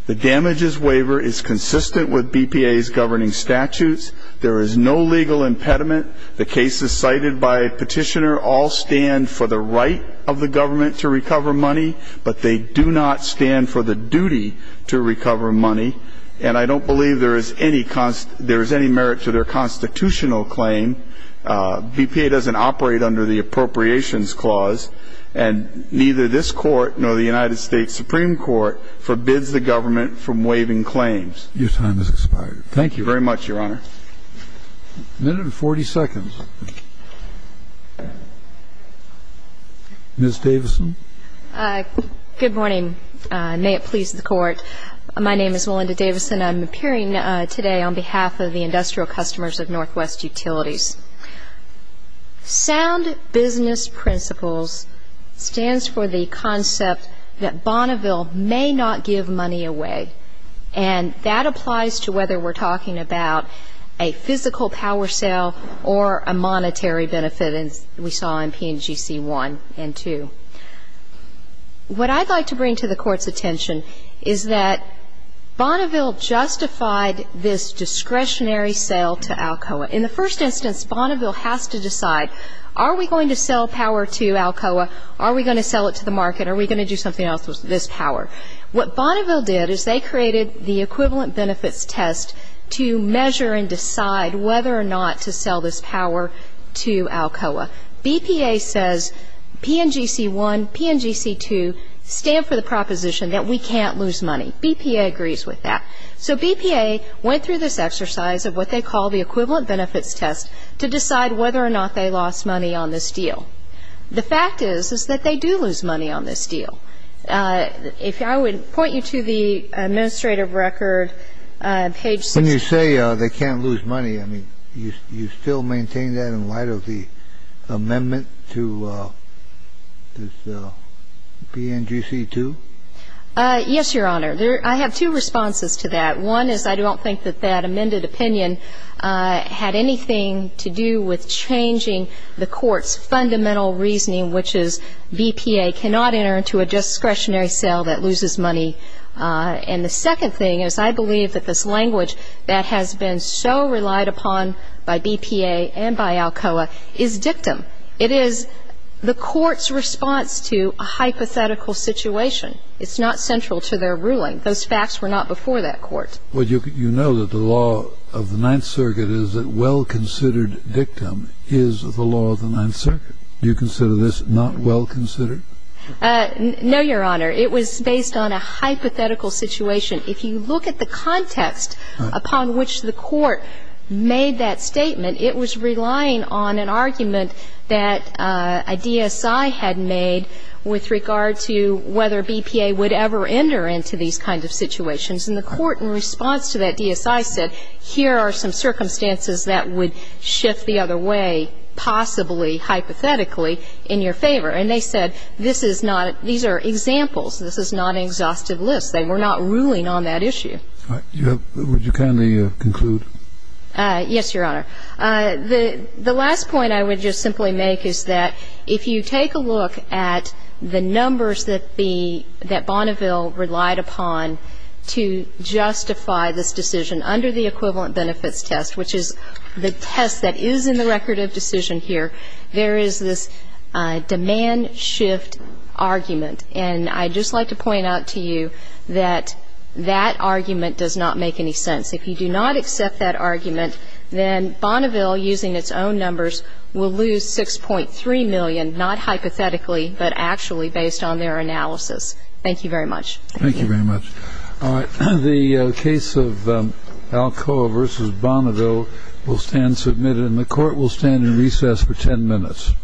The damages waiver is consistent with BPA's governing statutes. There is no legal impediment. The cases cited by Petitioner all stand for the right of the government to recover money, but they do not stand for the duty to recover money. And I don't believe there is any merit to their constitutional claim. BPA doesn't operate under the Appropriations Clause, and neither this Court nor the United States Supreme Court forbids the government from waiving claims. Your time has expired. Thank you very much, Your Honor. A minute and 40 seconds. Good morning. May it please the Court. My name is Melinda Davis, and I'm appearing today on behalf of the Industrial Customers of Northwest Utilities. Sound business principles stands for the concept that Bonneville may not give money away, and that applies to whether we're talking about a physical power sale or a monetary benefit, as we saw in PNGC 1 and 2. What I'd like to bring to the Court's attention is that Bonneville justified this discretionary sale to Alcoa. In the first instance, Bonneville has to decide, are we going to sell power to Alcoa? Are we going to sell it to the market? Are we going to do something else with this power? What Bonneville did is they created the equivalent benefits test to measure and decide whether or not to sell this power to Alcoa. BPA says PNGC 1, PNGC 2 stand for the proposition that we can't lose money. BPA agrees with that. So BPA went through this exercise of what they call the equivalent benefits test to decide whether or not they lost money on this deal. The fact is is that they do lose money on this deal. If I would point you to the administrative record, page 6. I would say they can't lose money. I mean, you still maintain that in light of the amendment to PNGC 2? Yes, Your Honor. I have two responses to that. One is I don't think that that amended opinion had anything to do with changing the Court's fundamental reasoning, which is BPA cannot enter into a discretionary sale that loses money. And the second thing is I believe that this language that has been so relied upon by BPA and by Alcoa is dictum. It is the Court's response to a hypothetical situation. It's not central to their ruling. Those facts were not before that Court. Well, you know that the law of the Ninth Circuit is that well-considered dictum is the law of the Ninth Circuit. Do you consider this not well-considered? No, Your Honor. It was based on a hypothetical situation. If you look at the context upon which the Court made that statement, it was relying on an argument that a DSI had made with regard to whether BPA would ever enter into these kinds of situations. And the Court, in response to that DSI, said here are some circumstances that would shift the other way, possibly hypothetically, in your favor. And they said this is not, these are examples. This is not an exhaustive list. They were not ruling on that issue. Would you kindly conclude? Yes, Your Honor. The last point I would just simply make is that if you take a look at the numbers that Bonneville relied upon to justify this decision under the equivalent benefits test, which is the test that is in the record of decision here, there is this demand shift argument. And I'd just like to point out to you that that argument does not make any sense. If you do not accept that argument, then Bonneville, using its own numbers, will lose $6.3 million, not hypothetically, but actually based on their analysis. Thank you very much. Thank you. Thank you very much. All right. The case of Alcoa v. Bonneville will stand submitted, and the Court will stand in recess for 10 minutes.